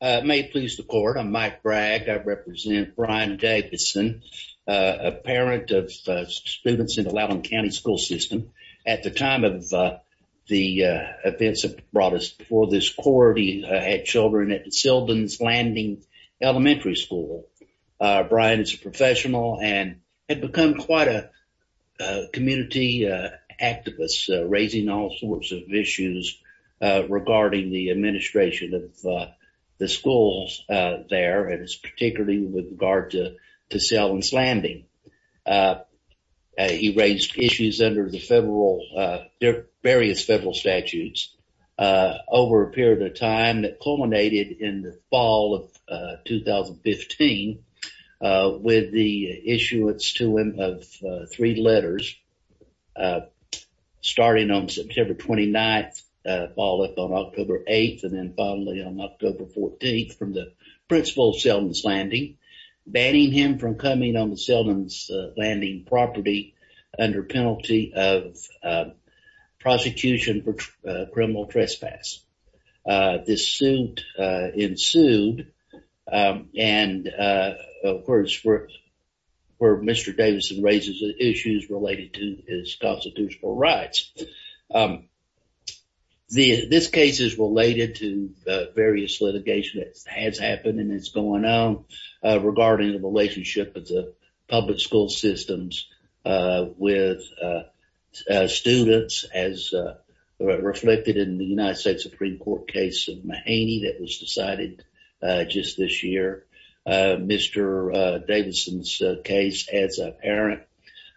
May it please the court. I'm Mike Bragg. I represent Brian Davison, a parent of students in the Loudoun County school system. At the time of the events that brought us before this court, he had children at Seldon's Landing Elementary School. Brian is a professional and had become quite a community activist, raising all sorts of issues regarding the administration of the schools there, and it's particularly with regard to to Seldon's Landing. He raised issues under the various federal statutes over a period of time that culminated in the fall of 2015 with the issuance to him of three letters, starting on September 29th, follow up on October 8th, and then finally on October 14th from the principal of Seldon's Landing, banning him from coming on the Seldon's Landing property under penalty of prosecution for criminal trespass. This suit ensued, and of course where Mr. Davison raises issues related to his constitutional rights. This case is related to various litigation that has happened and is going on regarding the relationship of the public school systems with students as reflected in the United States Supreme Court case of Mahaney that was decided just this year, Mr. Davison's case as a parent.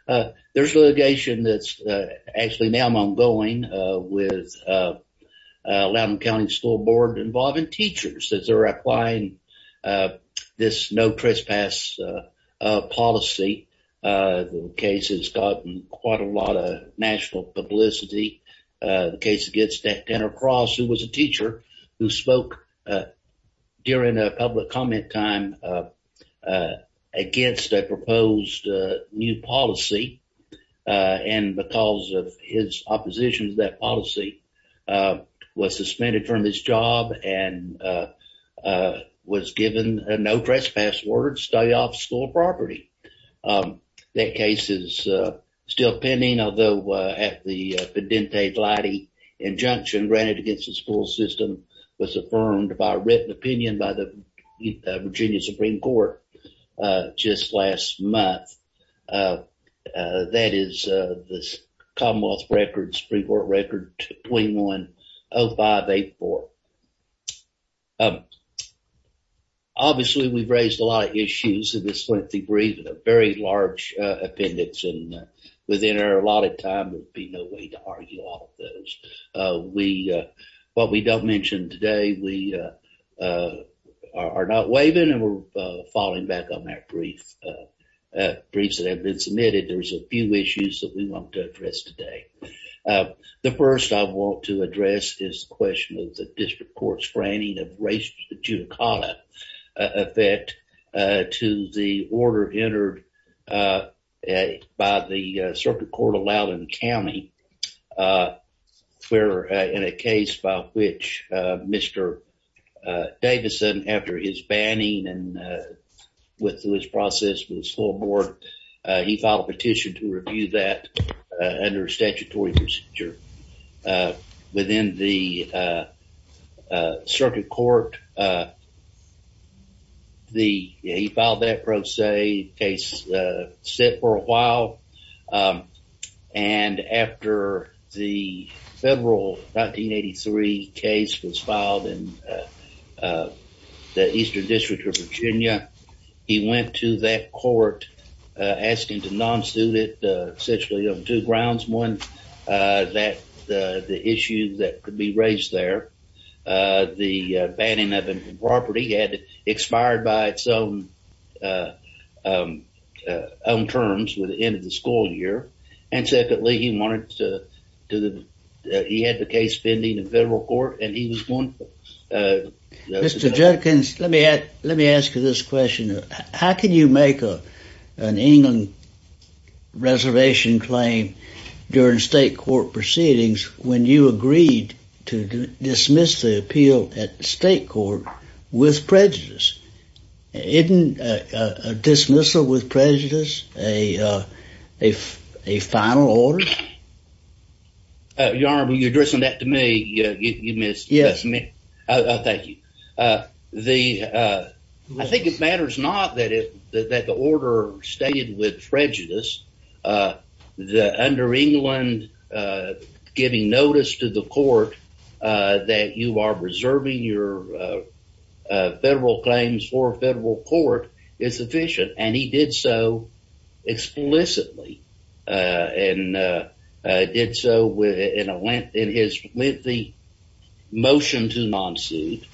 There's litigation that's actually now ongoing with Loudoun County School Board involving teachers since they're applying this no trespass policy. The case has gotten quite a lot of national publicity. The case against Denner Cross, who was a teacher who spoke during a public comment time against a proposed new policy, and because of his opposition to that policy, was suspended from his job and was given a no trespass word, stay off school property. That case is still pending, although at the pedente glade injunction granted against the school system was affirmed by written opinion by the Virginia Supreme Court just last month. That is the Commonwealth records Supreme Court record 210584. Obviously, we've raised a lot of issues in this lengthy brief, a very large appendix, and within a lot of time there'd be no way to argue all of those. What we don't mention today, we are not waiving and we're falling back on that brief. Briefs that have been submitted, there's a few issues that we want to address today. The first I want to address is the question of the district court's granting of racial judicata effect to the order entered by the circuit court allowed in the county. We're in a case by which Mr. Davison, after his banning and with his process with his whole board, he filed a petition to review that under statutory procedure. Within the circuit court, he filed that pro se case, set for a while, and after the federal 1983 case was filed in the eastern district of Virginia, he went to that court asking to non-suit it essentially on two there. The banning of the property had expired by its own terms with the end of the school year, and secondly, he had the case pending in federal court. Mr. Jenkins, let me ask you this question. How can you make an England reservation claim during state court proceedings when you agreed to dismiss the appeal at the state court with prejudice? Isn't a dismissal with prejudice a final order? Your Honor, you're addressing that to me. I think it matters not that the order stayed with prejudice. Under England, giving notice to the court that you are reserving your federal claims for federal court is sufficient, and he did so explicitly, and did so in his lengthy motion to non-suit,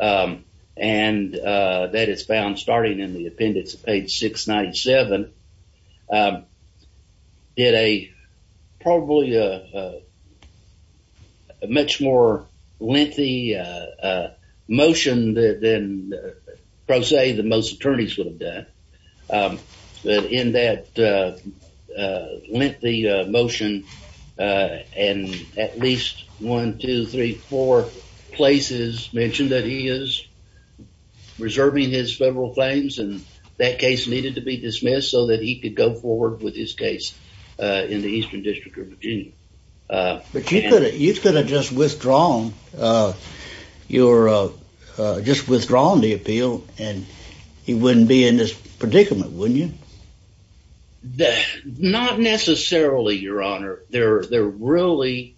and that is found starting in the appendix, page 697, did a probably a much more lengthy motion than pro se that most attorneys would have done. But in that lengthy motion, and at least one, two, three, four places mentioned that he is reserving his federal claims, and that case needed to be dismissed so that he could go forward with his case in the Eastern District of Virginia. But you could have just withdrawn the appeal, and he wouldn't be in this predicament, wouldn't you? Not necessarily, Your Honor. There really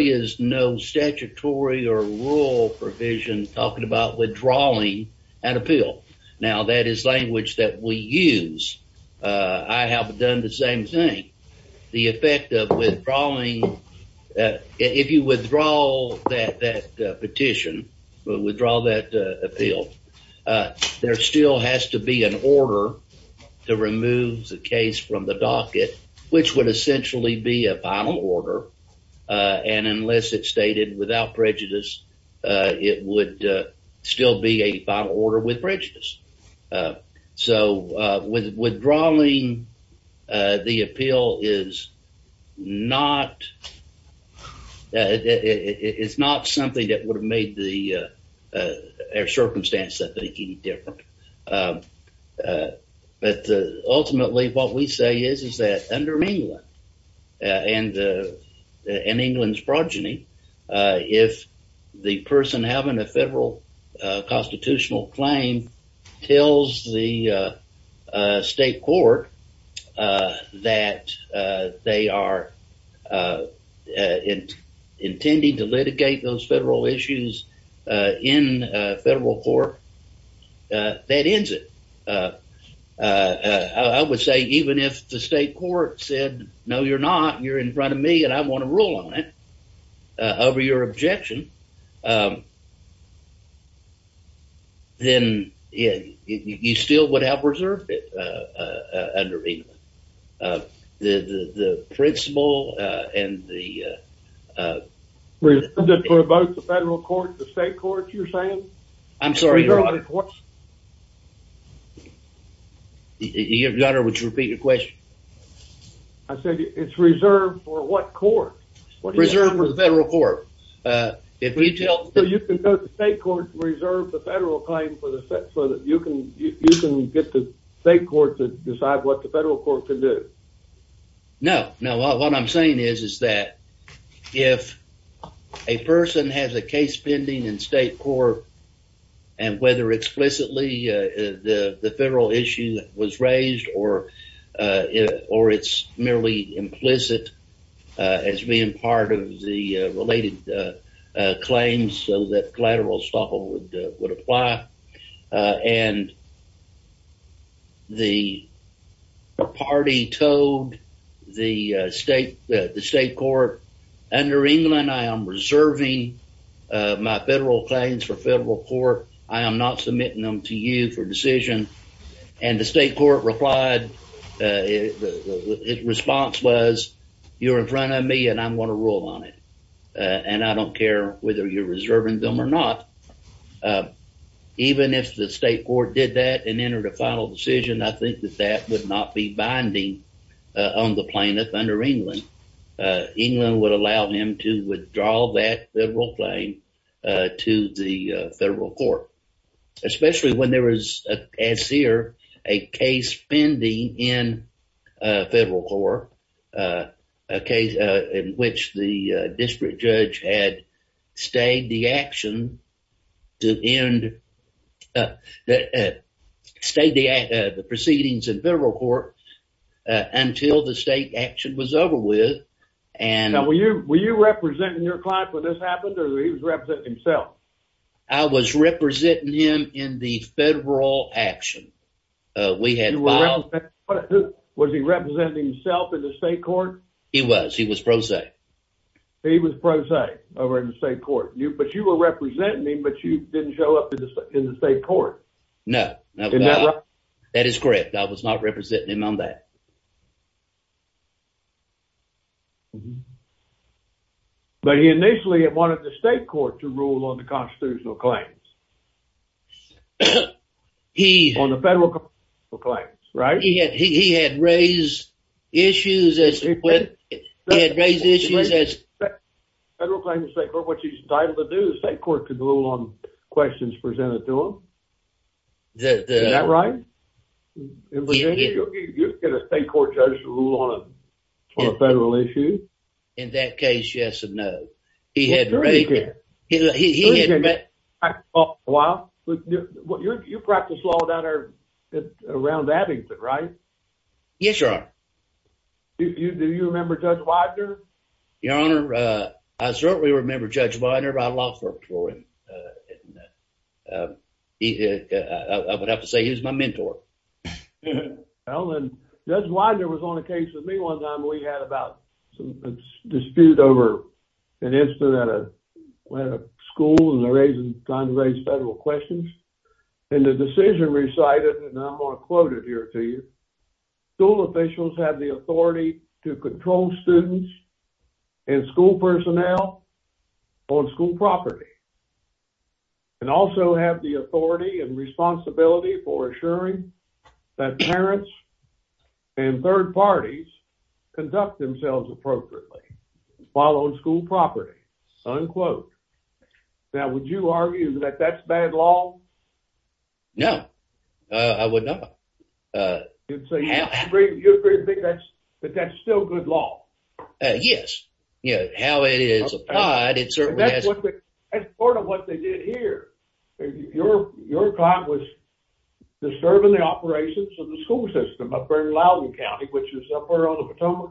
is no statutory or rule provision talking about withdrawing an appeal. Now, that is language that we use. I have done the same thing. The effect of withdrawing, if you withdraw that petition, withdraw that appeal, there still has to be an order to remove the case from the docket, which would essentially be a final order, and unless it's stated without prejudice, it would still be a final order with prejudice. So, withdrawing the appeal is not something that would have made the circumstance that they keep different. But ultimately, what we say is that under England and England's progeny, if the person having a federal constitutional claim tells the state court that they are intending to litigate those federal issues in federal court, that ends it. I would say even if the state court said, no, you're not, you're in front of me, and I want to rule on it over your objection, then you still would have reserved it under England. The principle and the... Reserved for both the federal court and the state court, you're saying? I'm sorry, your honor. Your honor, would you repeat your question? I said it's reserved for what court? Reserved for the federal court. You can tell the state court to reserve the federal claim so that you can get the state court to decide what the federal court can do. No, what I'm saying is that if a person has a case pending in state court and whether explicitly the federal issue was raised or it's merely implicit as being part of the related claims so that collateral stuff would apply, and the party told the state court, under England, I am reserving my federal claims for federal court. I am not submitting them to you for decision. And the state court replied, its response was, you're in front of me and I want to rule on it. And I don't care whether you're reserving them or not. Even if the state court did that and entered a final decision, I think that that would not be binding on the plaintiff under England. England would allow him to withdraw that federal claim to the federal court, especially when there was, as here, a case pending in federal court, a case in which the district judge had stayed the proceedings in federal court until the state action was over with. Now, were you representing your client when this happened or he was representing himself? I was representing him in the federal action. We had, was he representing himself in the state court? He was, he was pro se. He was pro se over in the state court, but you were representing him, but you didn't show up in the state court. No, that is correct. I was not representing him on that. But he initially wanted the state court to rule on the constitutional claims. He, on the federal claims, right? He had, he had raised issues as, he had raised issues as, federal claims in the state court, which he's entitled to do, the state court could rule on questions presented to him. Is that right? You get a state court judge to rule on a federal issue? In that case, yes and no. You practiced law around Abington, right? Yes, Your Honor. Do you remember Judge Widener? Your Honor, I certainly remember Judge Widener. I law clerked for him. I would have to say he was my mentor. Judge Widener was on a case with me one time. We had about a dispute over an incident at a school, and they're trying to raise federal questions. And the decision recited, and I'm going to quote it here to you, school officials have the authority to control students and school personnel on school property, and also have the authority and responsibility for assuring that parents and third parties conduct themselves appropriately while on school property, unquote. Now, would you argue that that's bad law? No, I would not. So you agree that that's still good law? Yes, you know, how it is applied, it certainly has. That's part of what they did here. Your client was disturbing the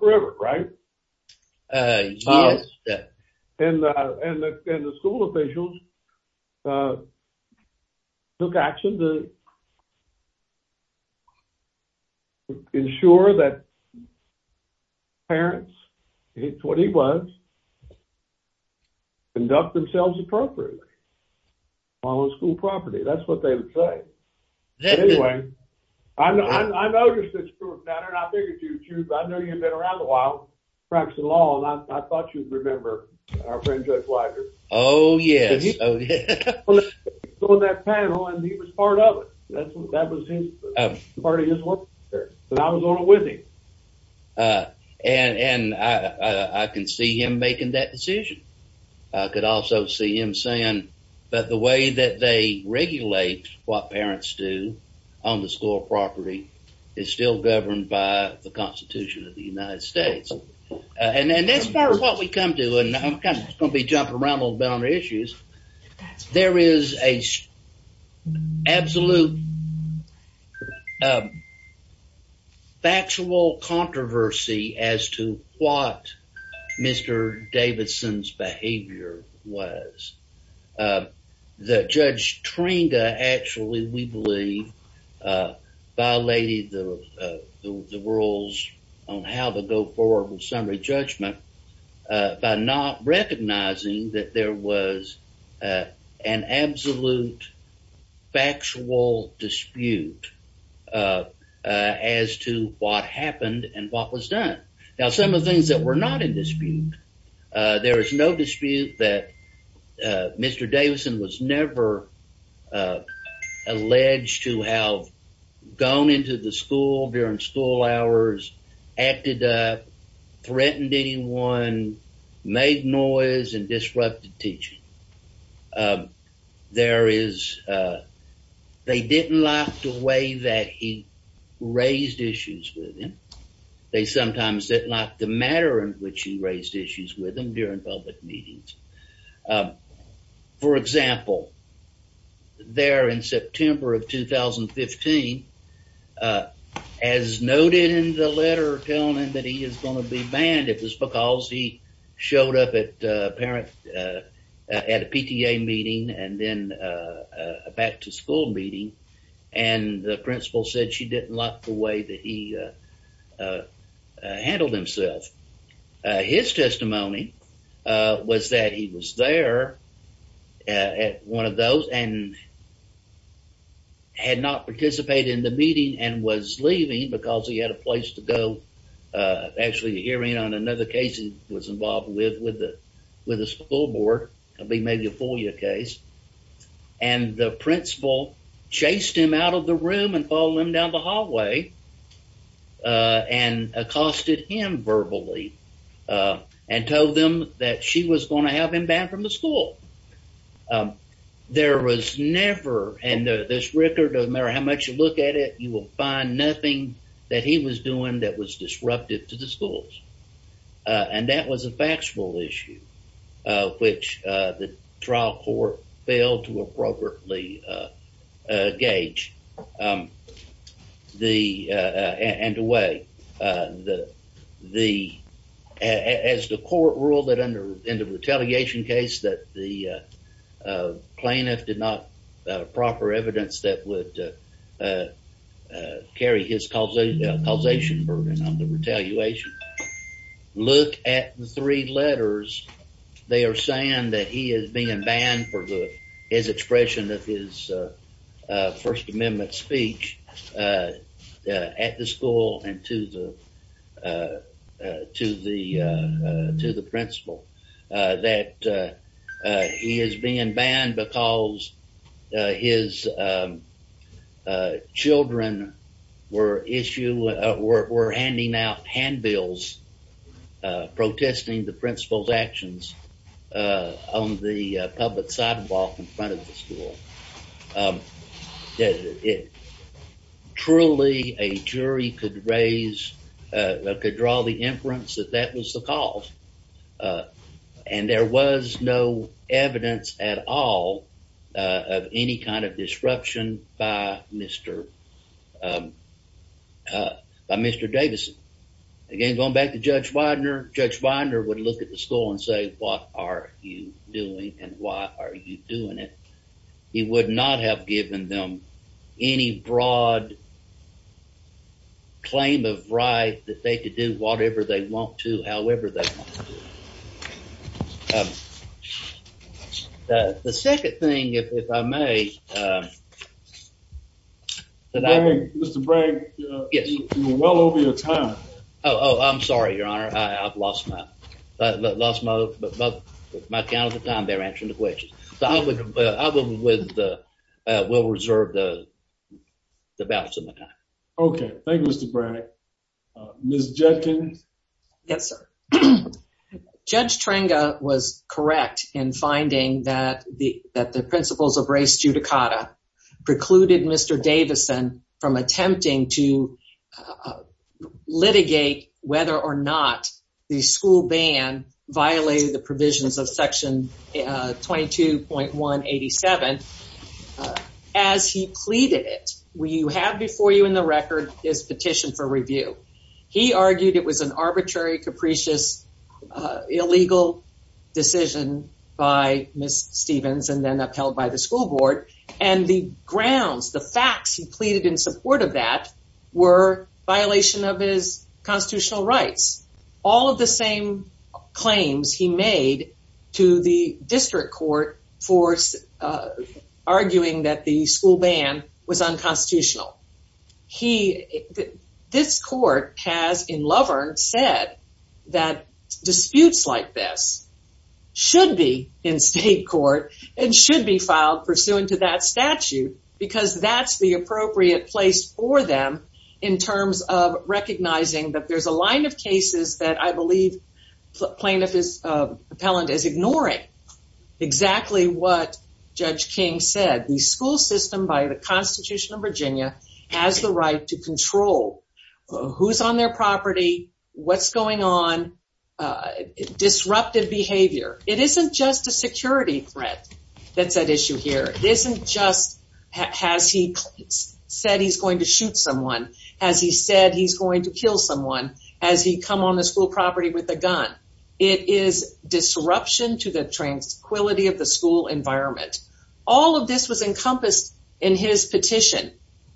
river, right? Yes. And the school officials took action to ensure that parents, it's what he was, conduct themselves appropriately while on school property. That's what they would say. Anyway, I noticed that's true of practicing law, and I thought you'd remember our friend Judge Widener. Oh, yes. He was on that panel, and he was part of it. That was part of his work there, but I was on it with him. And I can see him making that decision. I could also see him saying that the way that they regulate what parents do on the school property is still governed by the Constitution of the United States. And that's part of what we come to, and I'm kind of going to be jumping around on boundary issues. There is an absolute factual controversy as to what Mr. Davidson's behavior was. Judge Trinda actually, we believe, violated the rules on how to go forward with summary judgment by not recognizing that there was an absolute factual dispute as to what happened and what was done. Now, some of the things that were not in dispute. There is no dispute that Mr. Davidson was never alleged to have gone into the school during school hours, acted up, threatened anyone, made noise, and disrupted teaching. They didn't like the way that he raised issues with him. They sometimes didn't like the manner in which he raised issues with him during public meetings. For example, there in September of 2015, as noted in the letter telling him that he is going to be banned, it was because he showed up at a PTA meeting and then a back-to-school meeting, and the principal said she didn't like the way that he handled himself. His testimony was that he was there at one of those and had not participated in the meeting and was leaving because he had a place to go. Actually, a hearing on another case he was involved with with the school board, maybe a FOIA case, and the principal chased him out of the room and followed him down the hallway and accosted him verbally and told them that she was going to have him banned from the school. There was never, and this record doesn't matter how much you look at it, you will find nothing that he was doing that was disruptive to the schools, and that was a factual issue, which the trial court failed to appropriately gauge and weigh. As the court ruled in the retaliation case that the plaintiff did not have proper evidence that would carry his causation burden on the retaliation, look at the three letters they are saying that he is being banned for his expression of his First Amendment speech at the school and to the principal, that he is being banned because his on the public sidewalk in front of the school. Truly, a jury could draw the inference that that was the cause, and there was no evidence at all of any kind of disruption by Mr. Davison. Again, going back to Judge Widener, Judge Widener would look at the school and say, what are you doing, and why are you doing it? He would not have given them any broad claim of right that they could do whatever they want to, however they want to. The second thing, if I may, Mr. Bragg, you're well over your time. Oh, I'm sorry, Your Honor. I've lost my count of the time they're answering the questions. I will reserve the balance of my time. Okay, thank you, Mr. Bragg. Ms. Judkin? Yes, sir. Judge Tranga was correct in finding that the principles of race judicata precluded Mr. Davison from attempting to litigate whether or not the school ban violated the provisions of Section 22.187. As he pleaded it, you have before you in the record his petition for review. He argued it was an arbitrary, capricious, illegal decision by Ms. Stevens and then upheld by the school board, and the grounds, the facts he pleaded in support of that were violation of his constitutional rights. All of the same claims he made to the district court for arguing that the school ban was unconstitutional. This court has in Lovern said that disputes like this should be in state court and should be filed pursuant to that statute because that's the appropriate place for them in terms of recognizing that there's a line of cases that I believe plaintiff's appellant is ignoring exactly what Judge King said. The school system by the Constitution of Virginia has the right to control who's on their property, what's going on, disruptive behavior. It isn't just a security threat that's at issue here. It isn't just has he said he's going to shoot someone, has he said he's going to kill someone, has he come on the school property with a gun. It is disruption to the tranquility of the school environment. All of this was encompassed in his petition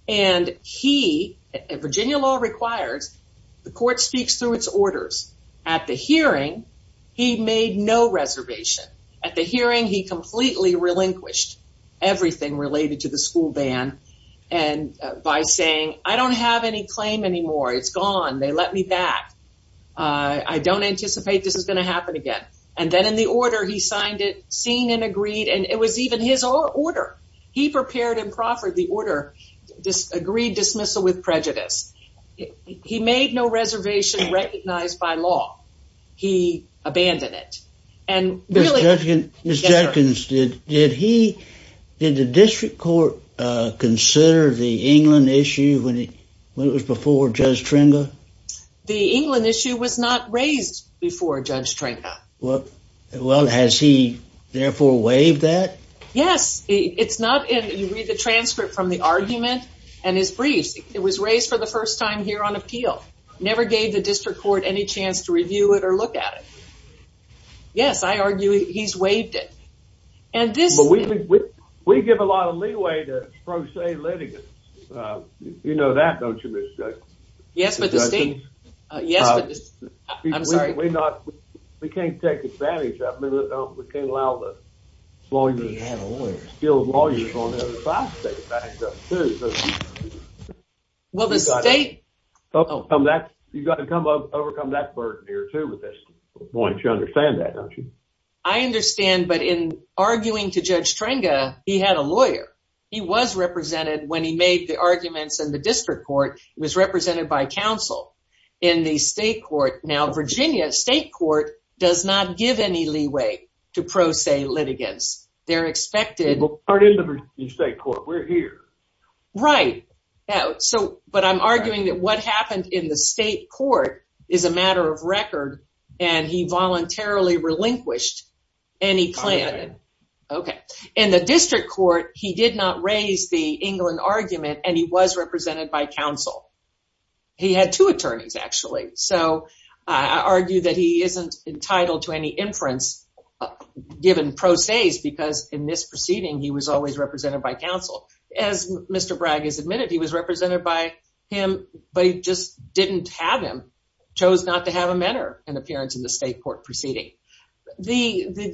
and he, Virginia law requires the court speaks through its orders. At the hearing, he made no reservation. At the hearing, he completely relinquished everything related to the school ban and by saying, I don't have any claim anymore. It's gone. They let me back. I don't anticipate this is going to happen again. And then in the order, he signed it, seen and agreed. And it was even his order. He prepared and proffered the order, this agreed dismissal with prejudice. He made no reservation recognized by law. He abandoned it. And really- Did he, did the district court consider the England issue when it was before Judge Tringa? The England issue was not raised before Judge Tringa. Well, has he therefore waived that? Yes. It's not in, you read the transcript from the argument and his briefs. It was raised for the first time here on appeal. Never gave the district court any chance to review it or look at it. Yes. I argue he's waived it. And this- But we give a lot of leeway to pro se litigants. You know that, don't you, Ms. Judge? Yes, but the state- Yes, but the- I'm sorry. We're not, we can't take advantage of, we can't allow the lawyers, skilled lawyers on the other side to take advantage of it too. Well, the state- You've got to overcome that burden here too with this point. You understand that, don't you? I understand, but in arguing to Judge Tringa, he had a lawyer. He was represented when he made the arguments in the district court. He was represented by counsel in the state court. Now, Virginia state court does not give any leeway to pro se litigants. They're expected- We're not in the state court. We're here. Right. But I'm arguing that what happened in the state court is a matter of record, and he voluntarily relinquished any claim. Okay. In the district court, he did not raise the England argument, and he was represented by counsel. He had two attorneys actually. So, I argue that he isn't entitled to any inference given pro se's because in this proceeding, he was always represented by counsel. As Mr. Bragg has admitted, he was represented by him, but he just didn't have him, chose not to have a matter in appearance in the state court proceeding. The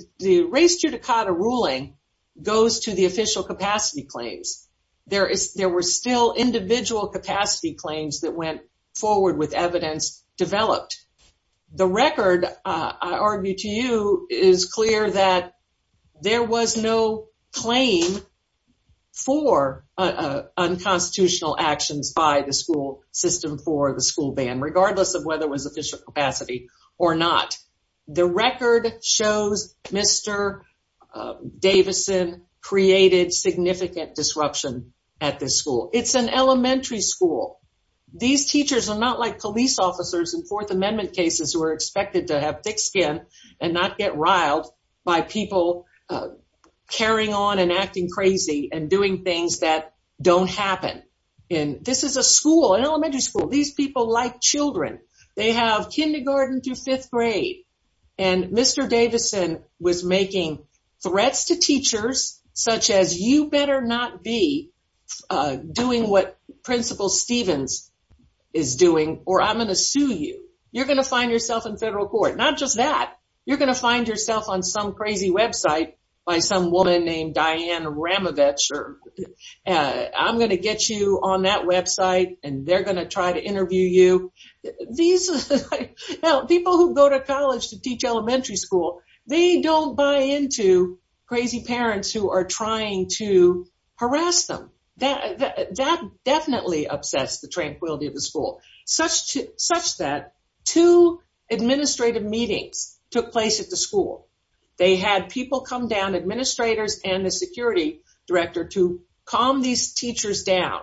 race judicata ruling goes to the official capacity claims. There were still individual capacity claims that went forward with evidence developed. The record, I argue to you, is clear that there was no claim for unconstitutional actions by the school system for the school ban, regardless of whether it was official capacity or not. The record shows Mr. Davidson created significant disruption at this school. It's an elementary school. These teachers are not like police officers in Fourth Amendment cases who are expected to have riled by people carrying on and acting crazy and doing things that don't happen. This is a school, an elementary school. These people like children. They have kindergarten through fifth grade. Mr. Davidson was making threats to teachers, such as, you better not be doing what Principal Stevens is doing, or I'm going to sue you. You're going to find yourself in federal court. Not just that. You're going to find yourself on some crazy website by some woman named Diane Ramovich. I'm going to get you on that website, and they're going to try to interview you. These people who go to college to teach elementary school, they don't buy into crazy parents who are trying to harass them. That definitely upsets the tranquility of the school, such that two administrative meetings took place at the school. They had people come down, administrators and the security director, to calm these teachers down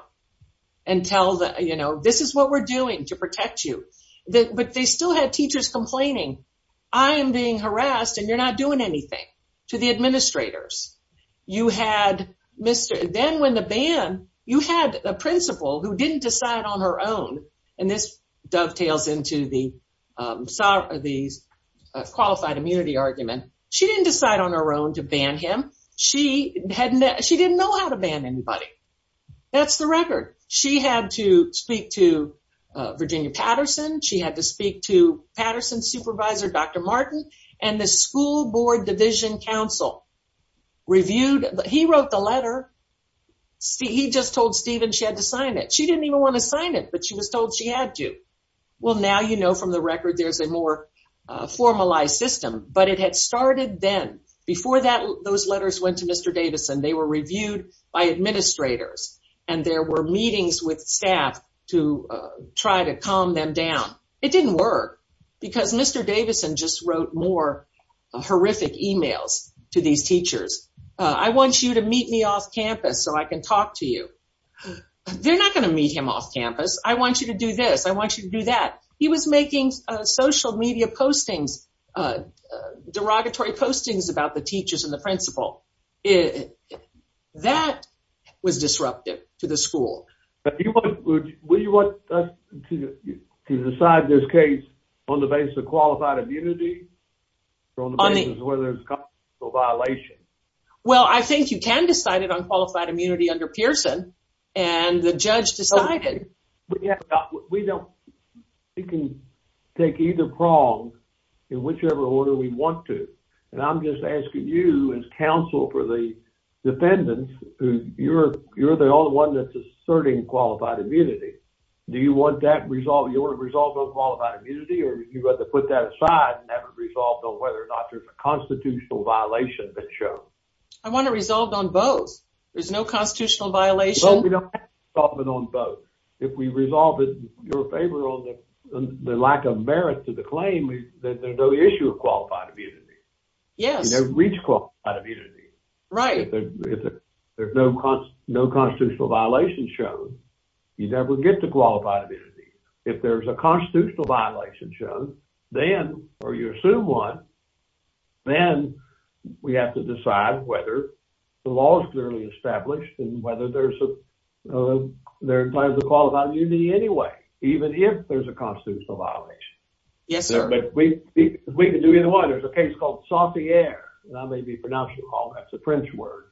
and tell them, this is what we're doing to protect you. They still had teachers complaining, I am being harassed and you're not doing anything, to the administrators. You had a principal who didn't decide on her own, and this dovetails into the qualified immunity argument. She didn't decide on her own to ban him. She didn't know how to ban anybody. That's the record. She had to speak to Virginia Patterson. She had to speak to reviewed. He wrote the letter. He just told Stephen she had to sign it. She didn't even want to sign it, but she was told she had to. Well, now you know from the record there's a more formalized system, but it had started then. Before those letters went to Mr. Davidson, they were reviewed by administrators, and there were meetings with staff to try to calm them down. It didn't work, because Mr. Davidson just wrote more horrific emails to these teachers. I want you to meet me off campus so I can talk to you. They're not going to meet him off campus. I want you to do this. I want you to do that. He was making social media postings, derogatory postings about the teachers and the principal. That was disruptive to the school. But would you want us to decide this case on the basis of qualified immunity or on the basis of whether it's a constitutional violation? Well, I think you can decide it on qualified immunity under Pearson, and the judge decided. We can take either prong in whichever order we want to. I'm just asking you as counsel for the asserting qualified immunity. Do you want to resolve on qualified immunity, or do you want to put that aside and have it resolved on whether or not there's a constitutional violation that's shown? I want it resolved on both. There's no constitutional violation. We don't have to resolve it on both. If we resolve it in your favor on the lack of merit to the claim, then there's no issue with qualified immunity. You never reach qualified immunity. If there's no constitutional violation shown, you never get to qualified immunity. If there's a constitutional violation shown, or you assume one, then we have to decide whether the law is clearly established and whether there's a qualified immunity anyway, even if there's a constitutional violation. Yes, sir. But we can do either one. There's a case called Sauvier, and I may be pronouncing it wrong. That's a French word.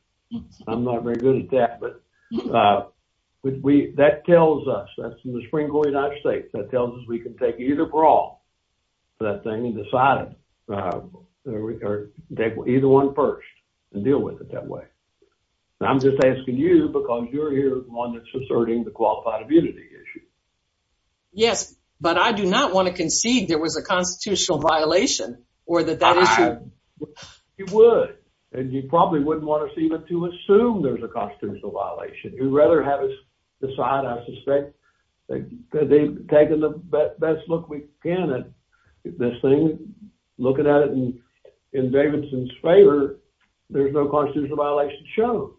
I'm not very good at that, but that tells us, that's in the spring going out of state, that tells us we can take either prong for that thing and decide it, or take either one first and deal with it that way. I'm just asking you because you're here the one that's asserting the qualified immunity issue. Yes, but I do not want to concede there was a constitutional violation or that that issue- You would, and you probably wouldn't want us even to assume there's a constitutional violation. You'd rather have us decide, I suspect, that they've taken the best look we can at this thing, looking at it in Davidson's favor, there's no constitutional violation shown.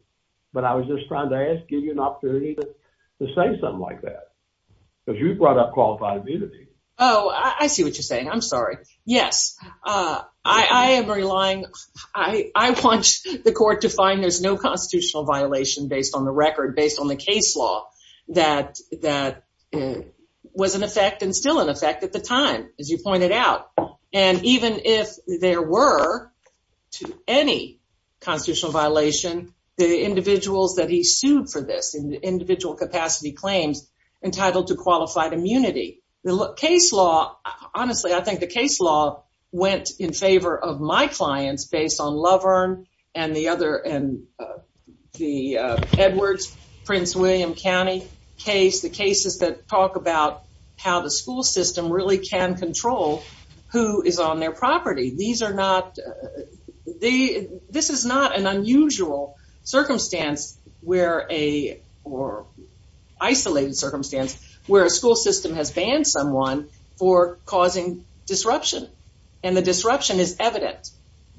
But I was just trying to ask, give you an opportunity to say something like that, because you brought up qualified immunity. Oh, I see what you're saying. I'm sorry. Yes. I am relying, I want the court to find there's no constitutional violation based on the record, based on the case law, that was in effect and still in effect at the time, as you pointed out. And even if there were to any constitutional violation, the individuals that he sued for this, individual capacity claims entitled to qualified immunity. The case law, honestly, I think the case law went in favor of my clients based on Loverne and the other, and the Edwards, Prince William County case, the cases that talk about how the school system really can control who is on their property. These are not, they, this is not an unusual circumstance where a, or isolated circumstance, where a school system has banned someone for causing disruption. And the disruption is evident.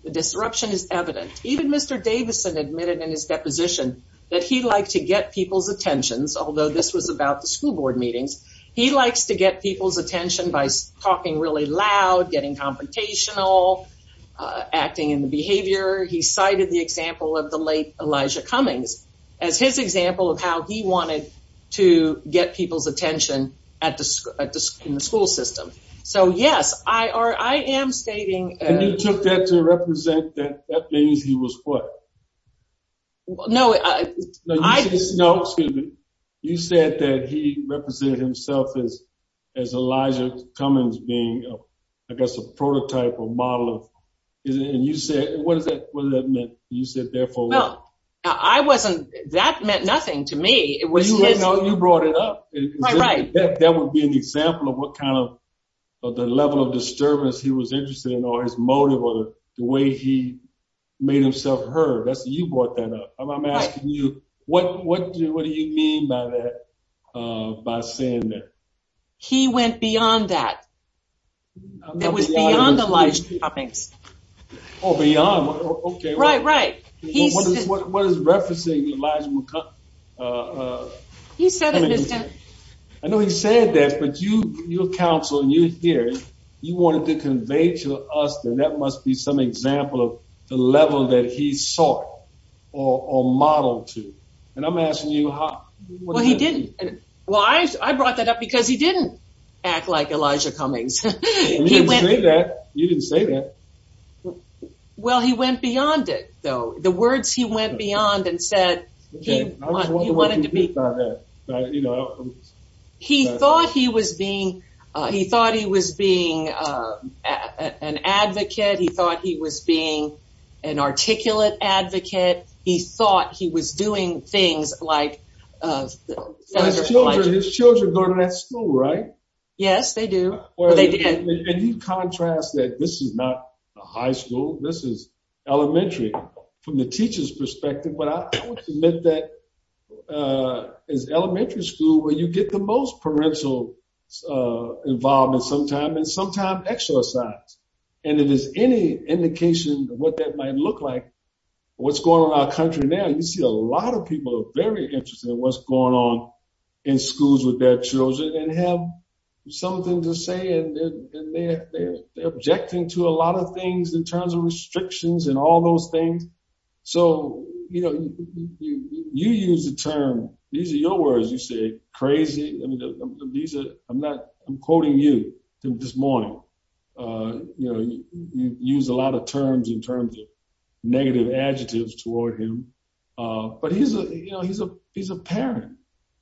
The disruption is evident. Even Mr. Davidson admitted in his deposition that he liked to get people's attentions, although this was about the school board meetings. He likes to get people's attention by talking really loud, getting confrontational, acting in the behavior. He cited the example of the late Elijah Cummings as his example of how he wanted to get people's attention at the, in the school system. So yes, I am stating- And you took that to represent that that means he was what? Well, no, I- No, excuse me. You said that he represented himself as, as Elijah Cummings being, I guess, a prototype or model of, and you said, what does that, what does that mean? You said, therefore- Well, I wasn't, that meant nothing to me. It was his- No, you brought it up. Right, right. That would be an example of what kind of, of the level of disturbance he was interested in, or his motive, or the way he made himself heard. You brought that up. I'm asking you, what do you mean by that, by saying that? He went beyond that. It was beyond Elijah Cummings. Oh, beyond, okay. Right, right. What is referencing Elijah- He said it, Mr.- I know he said that, but you, your counsel and you here, you wanted to convey to us that that must be some example of the level that he sought, or modeled to. And I'm asking you how- Well, he didn't. Well, I brought that up because he didn't act like Elijah Cummings. You didn't say that. You didn't say that. Well, he went beyond it, though. The words he went beyond and said, he wanted to be- I was wondering what you did about that. You know- He thought he was being, he thought he was being an advocate. He thought he was being an articulate advocate. He thought he was doing things like- His children go to that school, right? Yes, they do. Well, they did. And you contrast that this is not a high school. This is elementary from the teacher's perspective. But I would submit that as elementary school, where you get the most parental involvement sometimes, and sometimes exercise. And if there's any indication of what that might look like, what's going on in our country now, you see a lot of people are very interested in what's going on in schools with their children and have something to say. And they're objecting to a lot of things in terms of restrictions and all those things. So, you use the term, these are your words, you say crazy. I'm quoting you this morning. You use a lot of terms in terms of negative adjectives toward him. But he's a parent,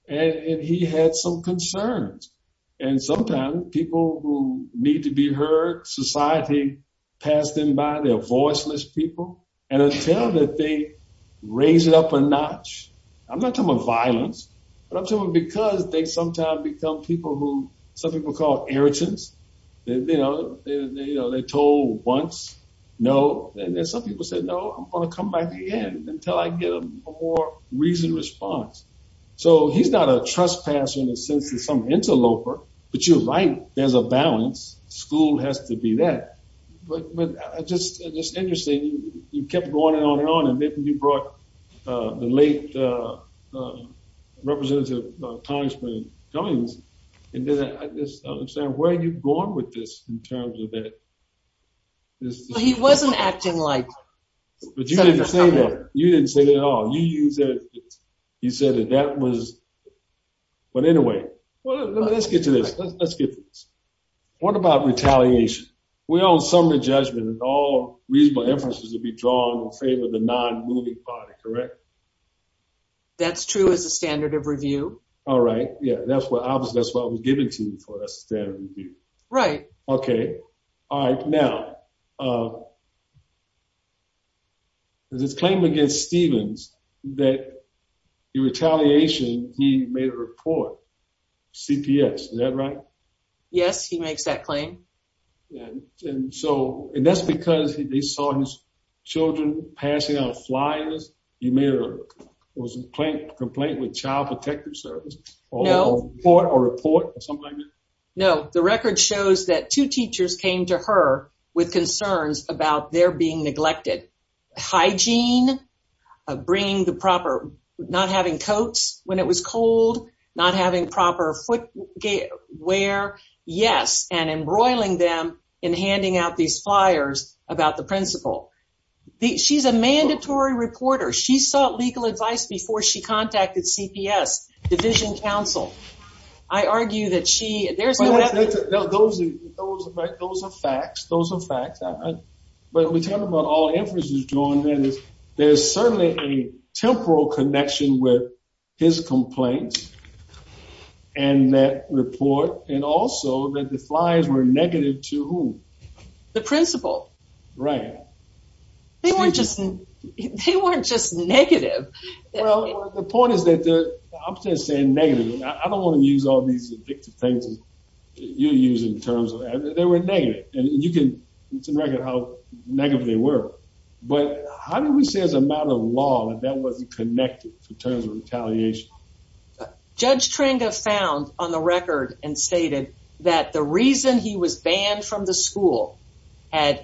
and he had some concerns. And sometimes people who need to be heard, society passed them by. They're voiceless people. And until that they raise it up a notch, I'm not talking about violence, but I'm talking about because they sometimes become people who some people call irritants. They're told once, no. And then some people said, no, I'm going to come back again until I get a more reasoned response. So, he's not a trespasser in the sense that some interloper, but you're right, there's a balance. School has to be that. But just interesting, you kept going on and on and on. And then you brought the late representative of Congressman Cummings. And I'm saying, where are you going with this in terms of that? He wasn't acting like- But you didn't say that. You didn't say that at all. You said that that was- But anyway, let's get to this. Let's get this. What about retaliation? We're on summary judgment and all reasonable inferences would be drawn in favor of the non-moving party, correct? That's true as a standard of review. All right. Yeah. Obviously, that's what I was giving to you for a standard review. Right. Okay. All right. Now, there's this claim against Stevens that in retaliation, he made a report, CPS. Is that right? Yes, he makes that claim. And that's because they saw his children passing out flyers. He made a complaint with Child Protective Service? No. Or a report or something like that? No. The record shows that two teachers came to her with concerns about their being neglected. Hygiene, not having coats when it was cold, not having proper footwear. Yes. And embroiling them in handing out these flyers about the principal. She's a mandatory reporter. She sought legal advice before she contacted CPS, division counsel. I argue that she, there's no- Those are facts. Those are facts. But we're talking about all inferences drawn. There's certainly a temporal connection with his complaints and that report. And also, that the flyers were negative to whom? The principal. Right. They weren't just negative. Well, the point is that the, I'm just saying negative. I don't want to use all these addictive things that you're using in terms of, they were negative. And you can, it's a record how negative they were. But how do we say as a matter of law that that wasn't connected in terms of retaliation? Judge Tringa found on the record and stated that the reason he was banned from the school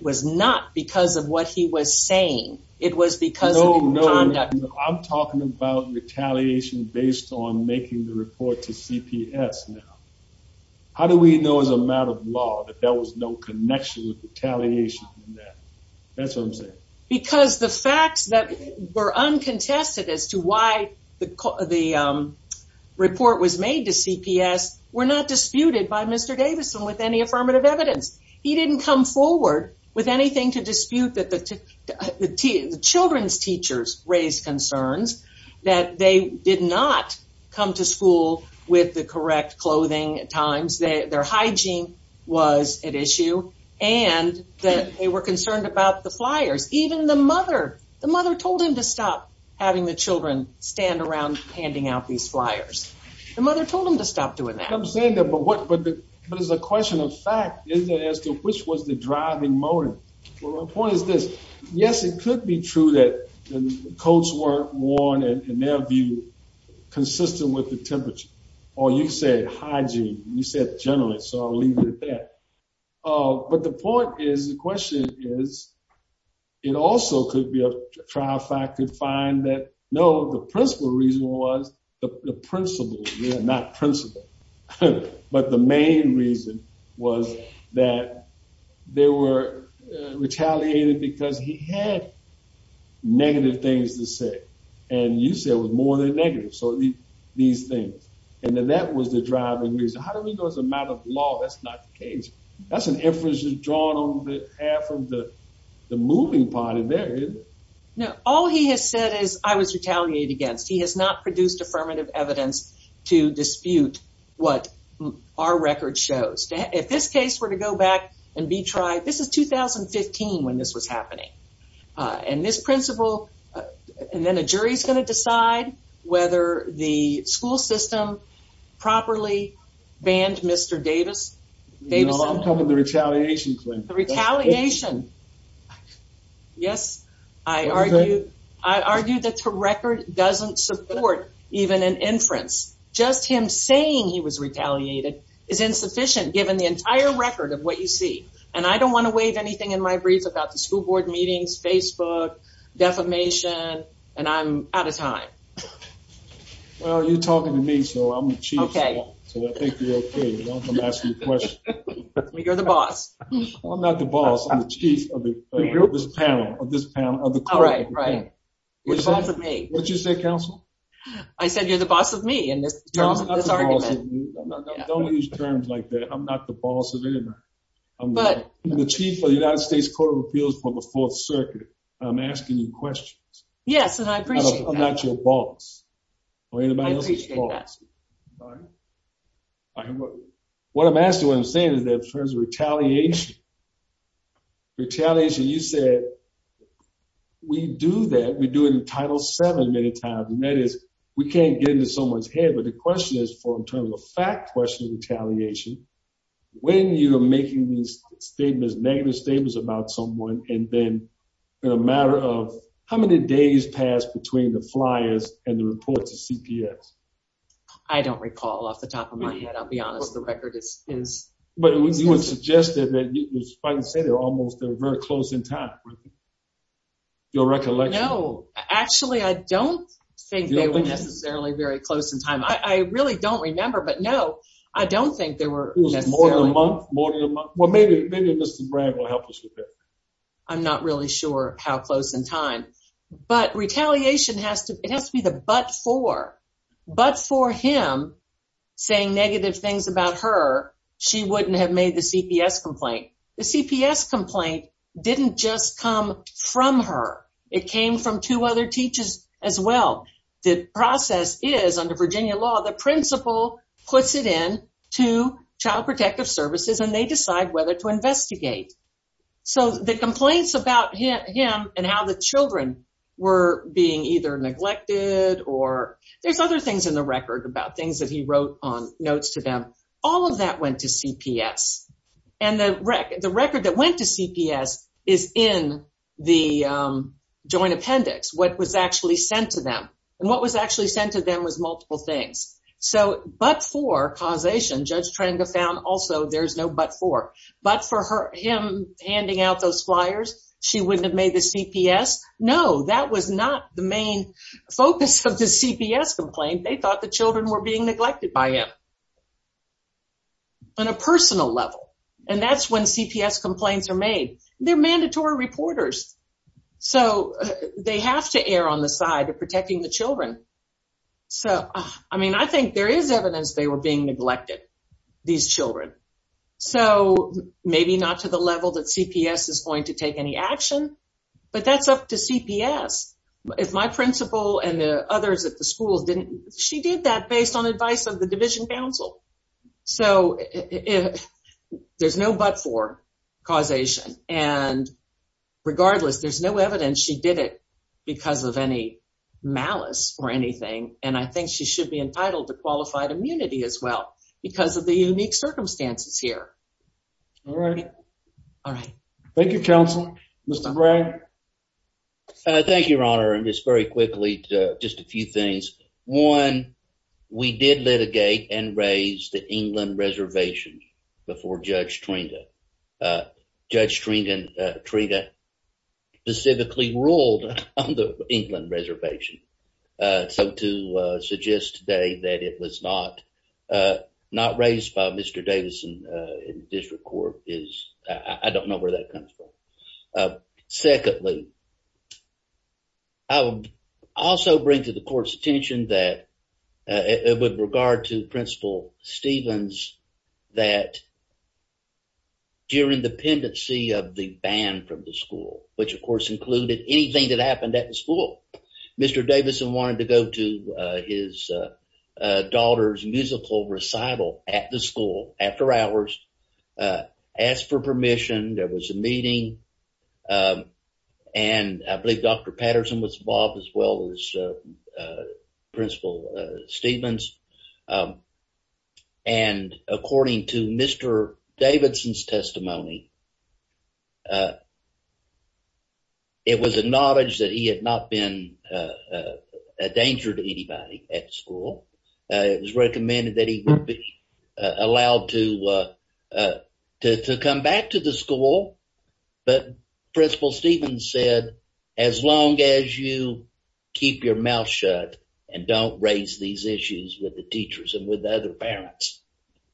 was not because of what he was saying. It was because of his conduct. I'm talking about retaliation based on making the report to CPS now. How do we know as a matter of law that there was no connection with retaliation in that? That's what I'm saying. Because the facts that were uncontested as to why the report was made to CPS were not forward with anything to dispute that the children's teachers raised concerns that they did not come to school with the correct clothing at times. Their hygiene was at issue and that they were concerned about the flyers. Even the mother, the mother told him to stop having the children stand around handing out these flyers. The mother told him to stop doing that. I'm saying that, but what, but, but as a question of fact, isn't it as to which was the driving motive? Well, my point is this. Yes, it could be true that the coats weren't worn in their view, consistent with the temperature. Or you can say hygiene. You said generally, so I'll leave it at that. But the point is, the question is, it also could be a trial fact could find that no, the principle reason was the principle, not principle. But the main reason was that they were retaliated because he had negative things to say. And you said it was more than negative. So these things, and then that was the driving reason. How do we go as a matter of law? That's not the case. That's an inference drawn on behalf of the moving party there. No, all he has said is I was retaliated against. He has not produced affirmative evidence to dispute what our record shows. If this case were to go back and be tried, this is 2015 when this was happening. And this principle and then a jury is going to decide whether the school system properly banned Mr. Davis. I'm talking about the retaliation claim. Retaliation. Yes, I argue that the record doesn't support even an inference. Just him saying he was retaliated is insufficient given the entire record of what you see. And I don't want to waive anything in my brief about the school board meetings, Facebook, defamation, and I'm out of time. You're the boss. I'm not the boss. I'm the chief of this panel. What did you say, counsel? I said you're the boss of me. Don't use terms like that. I'm not the boss of anybody. I'm the chief of the United States Court of Appeals for the Fourth Circuit. I'm asking you questions. Yes, and I appreciate that. I appreciate that. What I'm asking, what I'm saying is that in terms of retaliation, retaliation, you said we do that. We do it in Title VII many times. And that is we can't get into someone's head. But the question is in terms of the fact question of retaliation, when you're making these statements, negative statements about someone and then in a matter of how many days passed between the flyers and the reports of CPS? I don't recall off the top of my head. I'll be honest. The record is... But you would suggest that you might say they're almost, they're very close in time. Your recollection? No, actually, I don't think they were necessarily very close in time. I really don't remember. But no, I don't think there were necessarily... More than a month, more than a month. I'm not really sure how close in time. But retaliation, it has to be the but for. But for him saying negative things about her, she wouldn't have made the CPS complaint. The CPS complaint didn't just come from her. It came from two other teachers as well. The process is under Virginia law, the principal puts it in to Child Protective Services and they decide whether to the complaints about him and how the children were being either neglected or... There's other things in the record about things that he wrote on notes to them. All of that went to CPS. And the record that went to CPS is in the joint appendix, what was actually sent to them. And what was actually sent to them was multiple things. So, but for causation, Judge Trenga found also there's no but for. But for him handing out those flyers, she wouldn't have made the CPS. No, that was not the main focus of the CPS complaint. They thought the children were being neglected by him on a personal level. And that's when CPS complaints are made. They're mandatory reporters. So, they have to err on the side of protecting the children. So, I mean, I think there is evidence they were being neglected, these children. So, maybe not to the level that CPS is going to take any action, but that's up to CPS. If my principal and the others at the schools didn't... She did that based on advice of the division council. So, there's no but for causation. And regardless, there's no evidence she did it because of any malice or anything. And I think she should be entitled to qualified immunity as well because of the unique circumstances here. All right. All right. Thank you, counsel. Mr. Bragg. Thank you, Your Honor. And just very quickly, just a few things. One, we did litigate and raise the Judge Trina specifically ruled on the England reservation. So, to suggest today that it was not raised by Mr. Davidson in the district court is... I don't know where that comes from. Secondly, I would also bring to the court's attention that with regard to Principal Stevens, that during the pendency of the ban from the school, which of course included anything that happened at the school, Mr. Davidson wanted to go to his daughter's musical recital at the school after hours, ask for permission, there was a meeting. And I believe Dr. Patterson was involved as well as Principal Stevens. And according to Mr. Davidson's testimony, it was acknowledged that he had not been a danger to anybody at school. It was recommended that he allowed to come back to the school. But Principal Stevens said, as long as you keep your mouth shut and don't raise these issues with the teachers and with the other parents,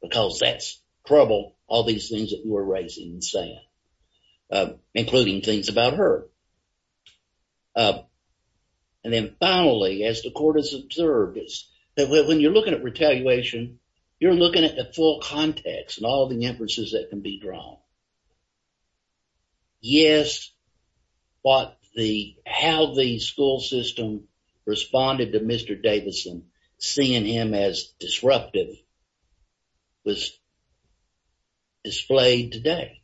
because that's trouble, all these things that you are raising and saying, including things about her. And then finally, as the court has observed, when you're looking at retaliation, you're looking at the full context and all the inferences that can be drawn. Yes, how the school system responded to Mr. Davidson, seeing him as disruptive, was displayed today.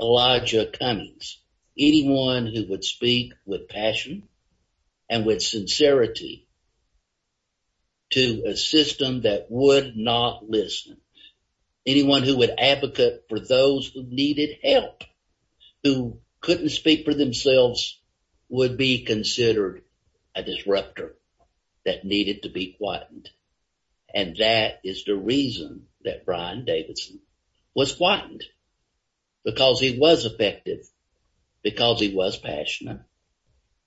Elijah Cunnings, anyone who would speak with passion and with sincerity to a system that would not listen, anyone who would advocate for those who needed help, who couldn't speak for themselves, would be considered a disruptor that needed to be quiet. And that is the reason that Brian Davidson was quiet, because he was effective, because he was passionate,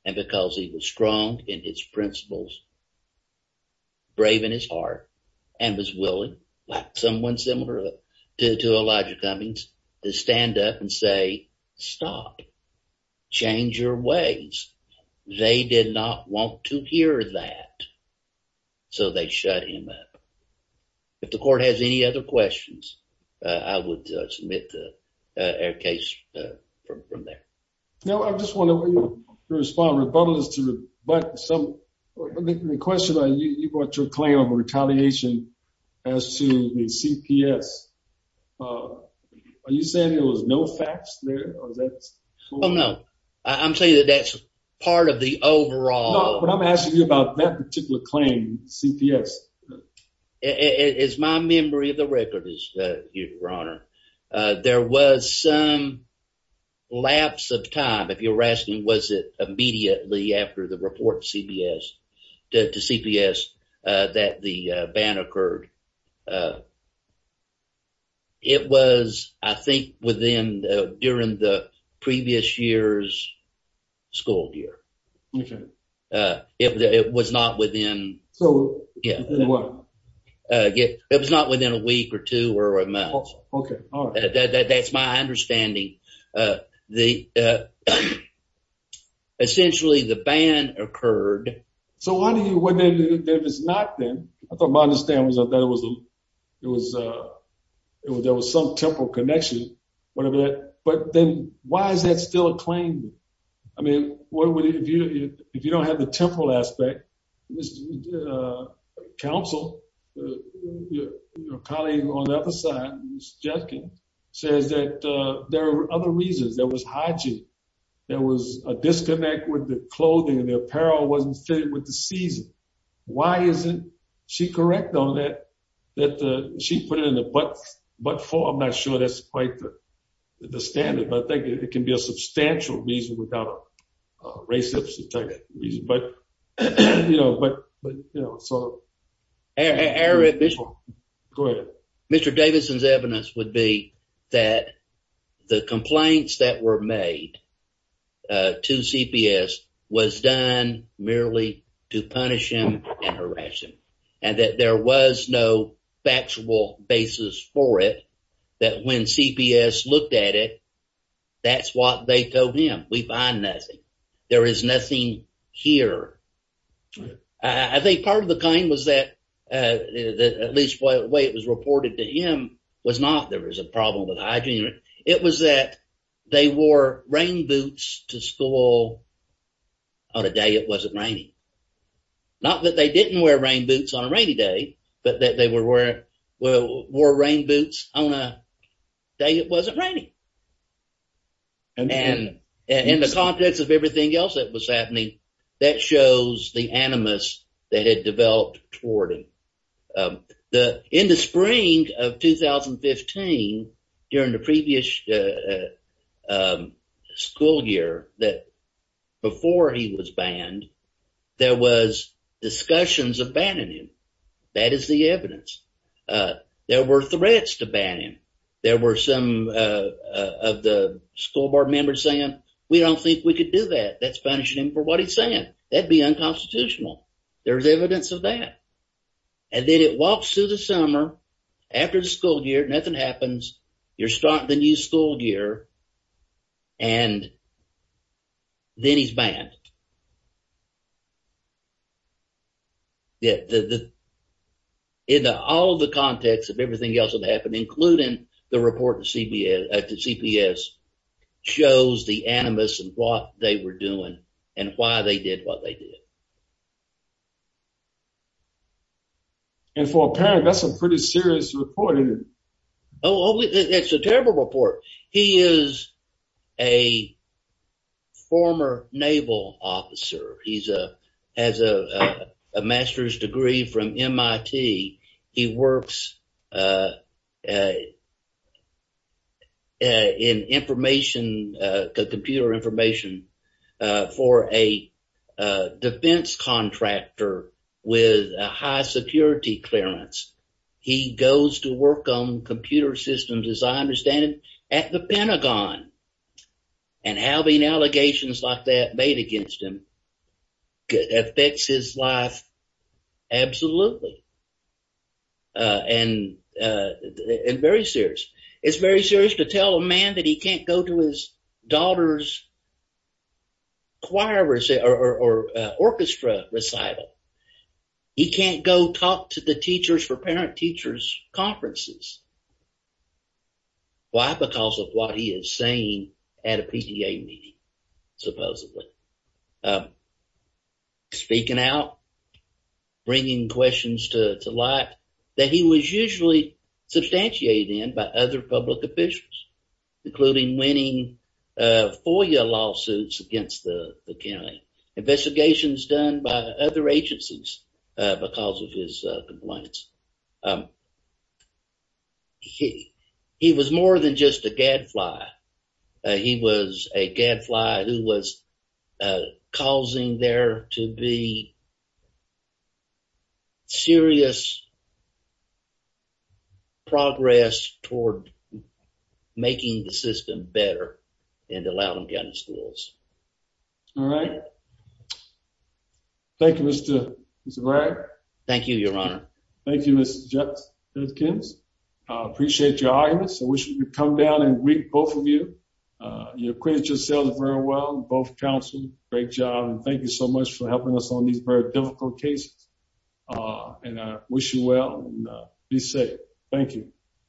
and because he was strong in his principles, brave in his heart, and was willing, like someone similar to Elijah Cummings, to stand up and say, stop, change your ways. They did not want to hear that, so they shut him up. If the court has any other questions, I would submit the case from there. No, I just want to respond. The question you brought to a claim of retaliation as to the CPS, are you saying there was no facts there? Oh, no. I'm saying that that's part of the overall... No, but I'm asking you about that particular claim, CPS. It's my memory of the record, Your Honor. There was some lapse of time, if you're asking, was it immediately after the report to CPS that the ban occurred. It was, I think, during the previous year's school year. Okay. It was not within... So, within what? It was not within a week or two or a month. Okay, all right. That's my understanding. Essentially, the ban occurred. So, if it's not then, I thought my understanding was that there was some temporal connection, whatever that... But then, why is that still a claim? I mean, if you don't have the temporal aspect, counsel, your colleague on the other side, Ms. Jetskin, says that there were other reasons. There was hygiene. There was a disconnect with the clothing and the apparel wasn't fitting with the season. Why isn't she correct on that, that she put it in the but-for? I'm not sure that's quite the standard, but I think it can be a substantial reason without a race but, you know, but, you know, so... Eric, go ahead. Mr. Davidson's evidence would be that the complaints that were made to CPS was done merely to punish him and harass him and that there was no factual basis for it that when CPS looked at it, that's what they told him. We find nothing. There is nothing here. I think part of the claim was that at least the way it was reported to him was not there was a problem with hygiene. It was that they wore rain boots to school on a day it wasn't raining. Not that they didn't wear rain boots on and in the context of everything else that was happening, that shows the animus that had developed toward him. In the spring of 2015, during the previous school year that before he was banned, there was discussions of banning him. That is the evidence. There were threats to ban him. There were some of the school board members saying we don't think we could do that. That's punishing him for what he's saying. That'd be unconstitutional. There's evidence of that and then it walks through the summer after the school year, nothing happens. You're starting the new school year and then he's banned. In all of the context of everything else that happened, including the report to CPS, shows the animus and what they were doing and why they did what they did. And for a parent, that's a pretty serious report. Oh, it's a terrible report. He is a former naval officer. He has a master's degree from MIT. He works in computer information for a defense contractor with a high security clearance. He goes to work on computer systems, as I understand it, at the Pentagon and having allegations like that made against him affects his life. Absolutely. And very serious. It's very serious to tell a man that he can't go to his daughter's or orchestra recital. He can't go talk to the teachers for parent-teachers conferences. Why? Because of what he is saying at a PTA meeting, supposedly. Speaking out, bringing questions to light that he was usually substantiated in by other public officials, including winning FOIA lawsuits against the county. Investigations done by other agencies because of his complaints. He was more than just a gadfly. He was a gadfly who was causing there to be serious progress toward making the system better and allowing them to end the schools. All right. Thank you, Mr. Bragg. Thank you, Your Honor. Thank you, Mr. Jenkins. I appreciate your arguments. I wish we could come down and greet both of you. You acquitted yourselves very well, both counsels. Great job. And thank you so much for helping us on these very difficult cases. And I wish you well and be safe. Thank you.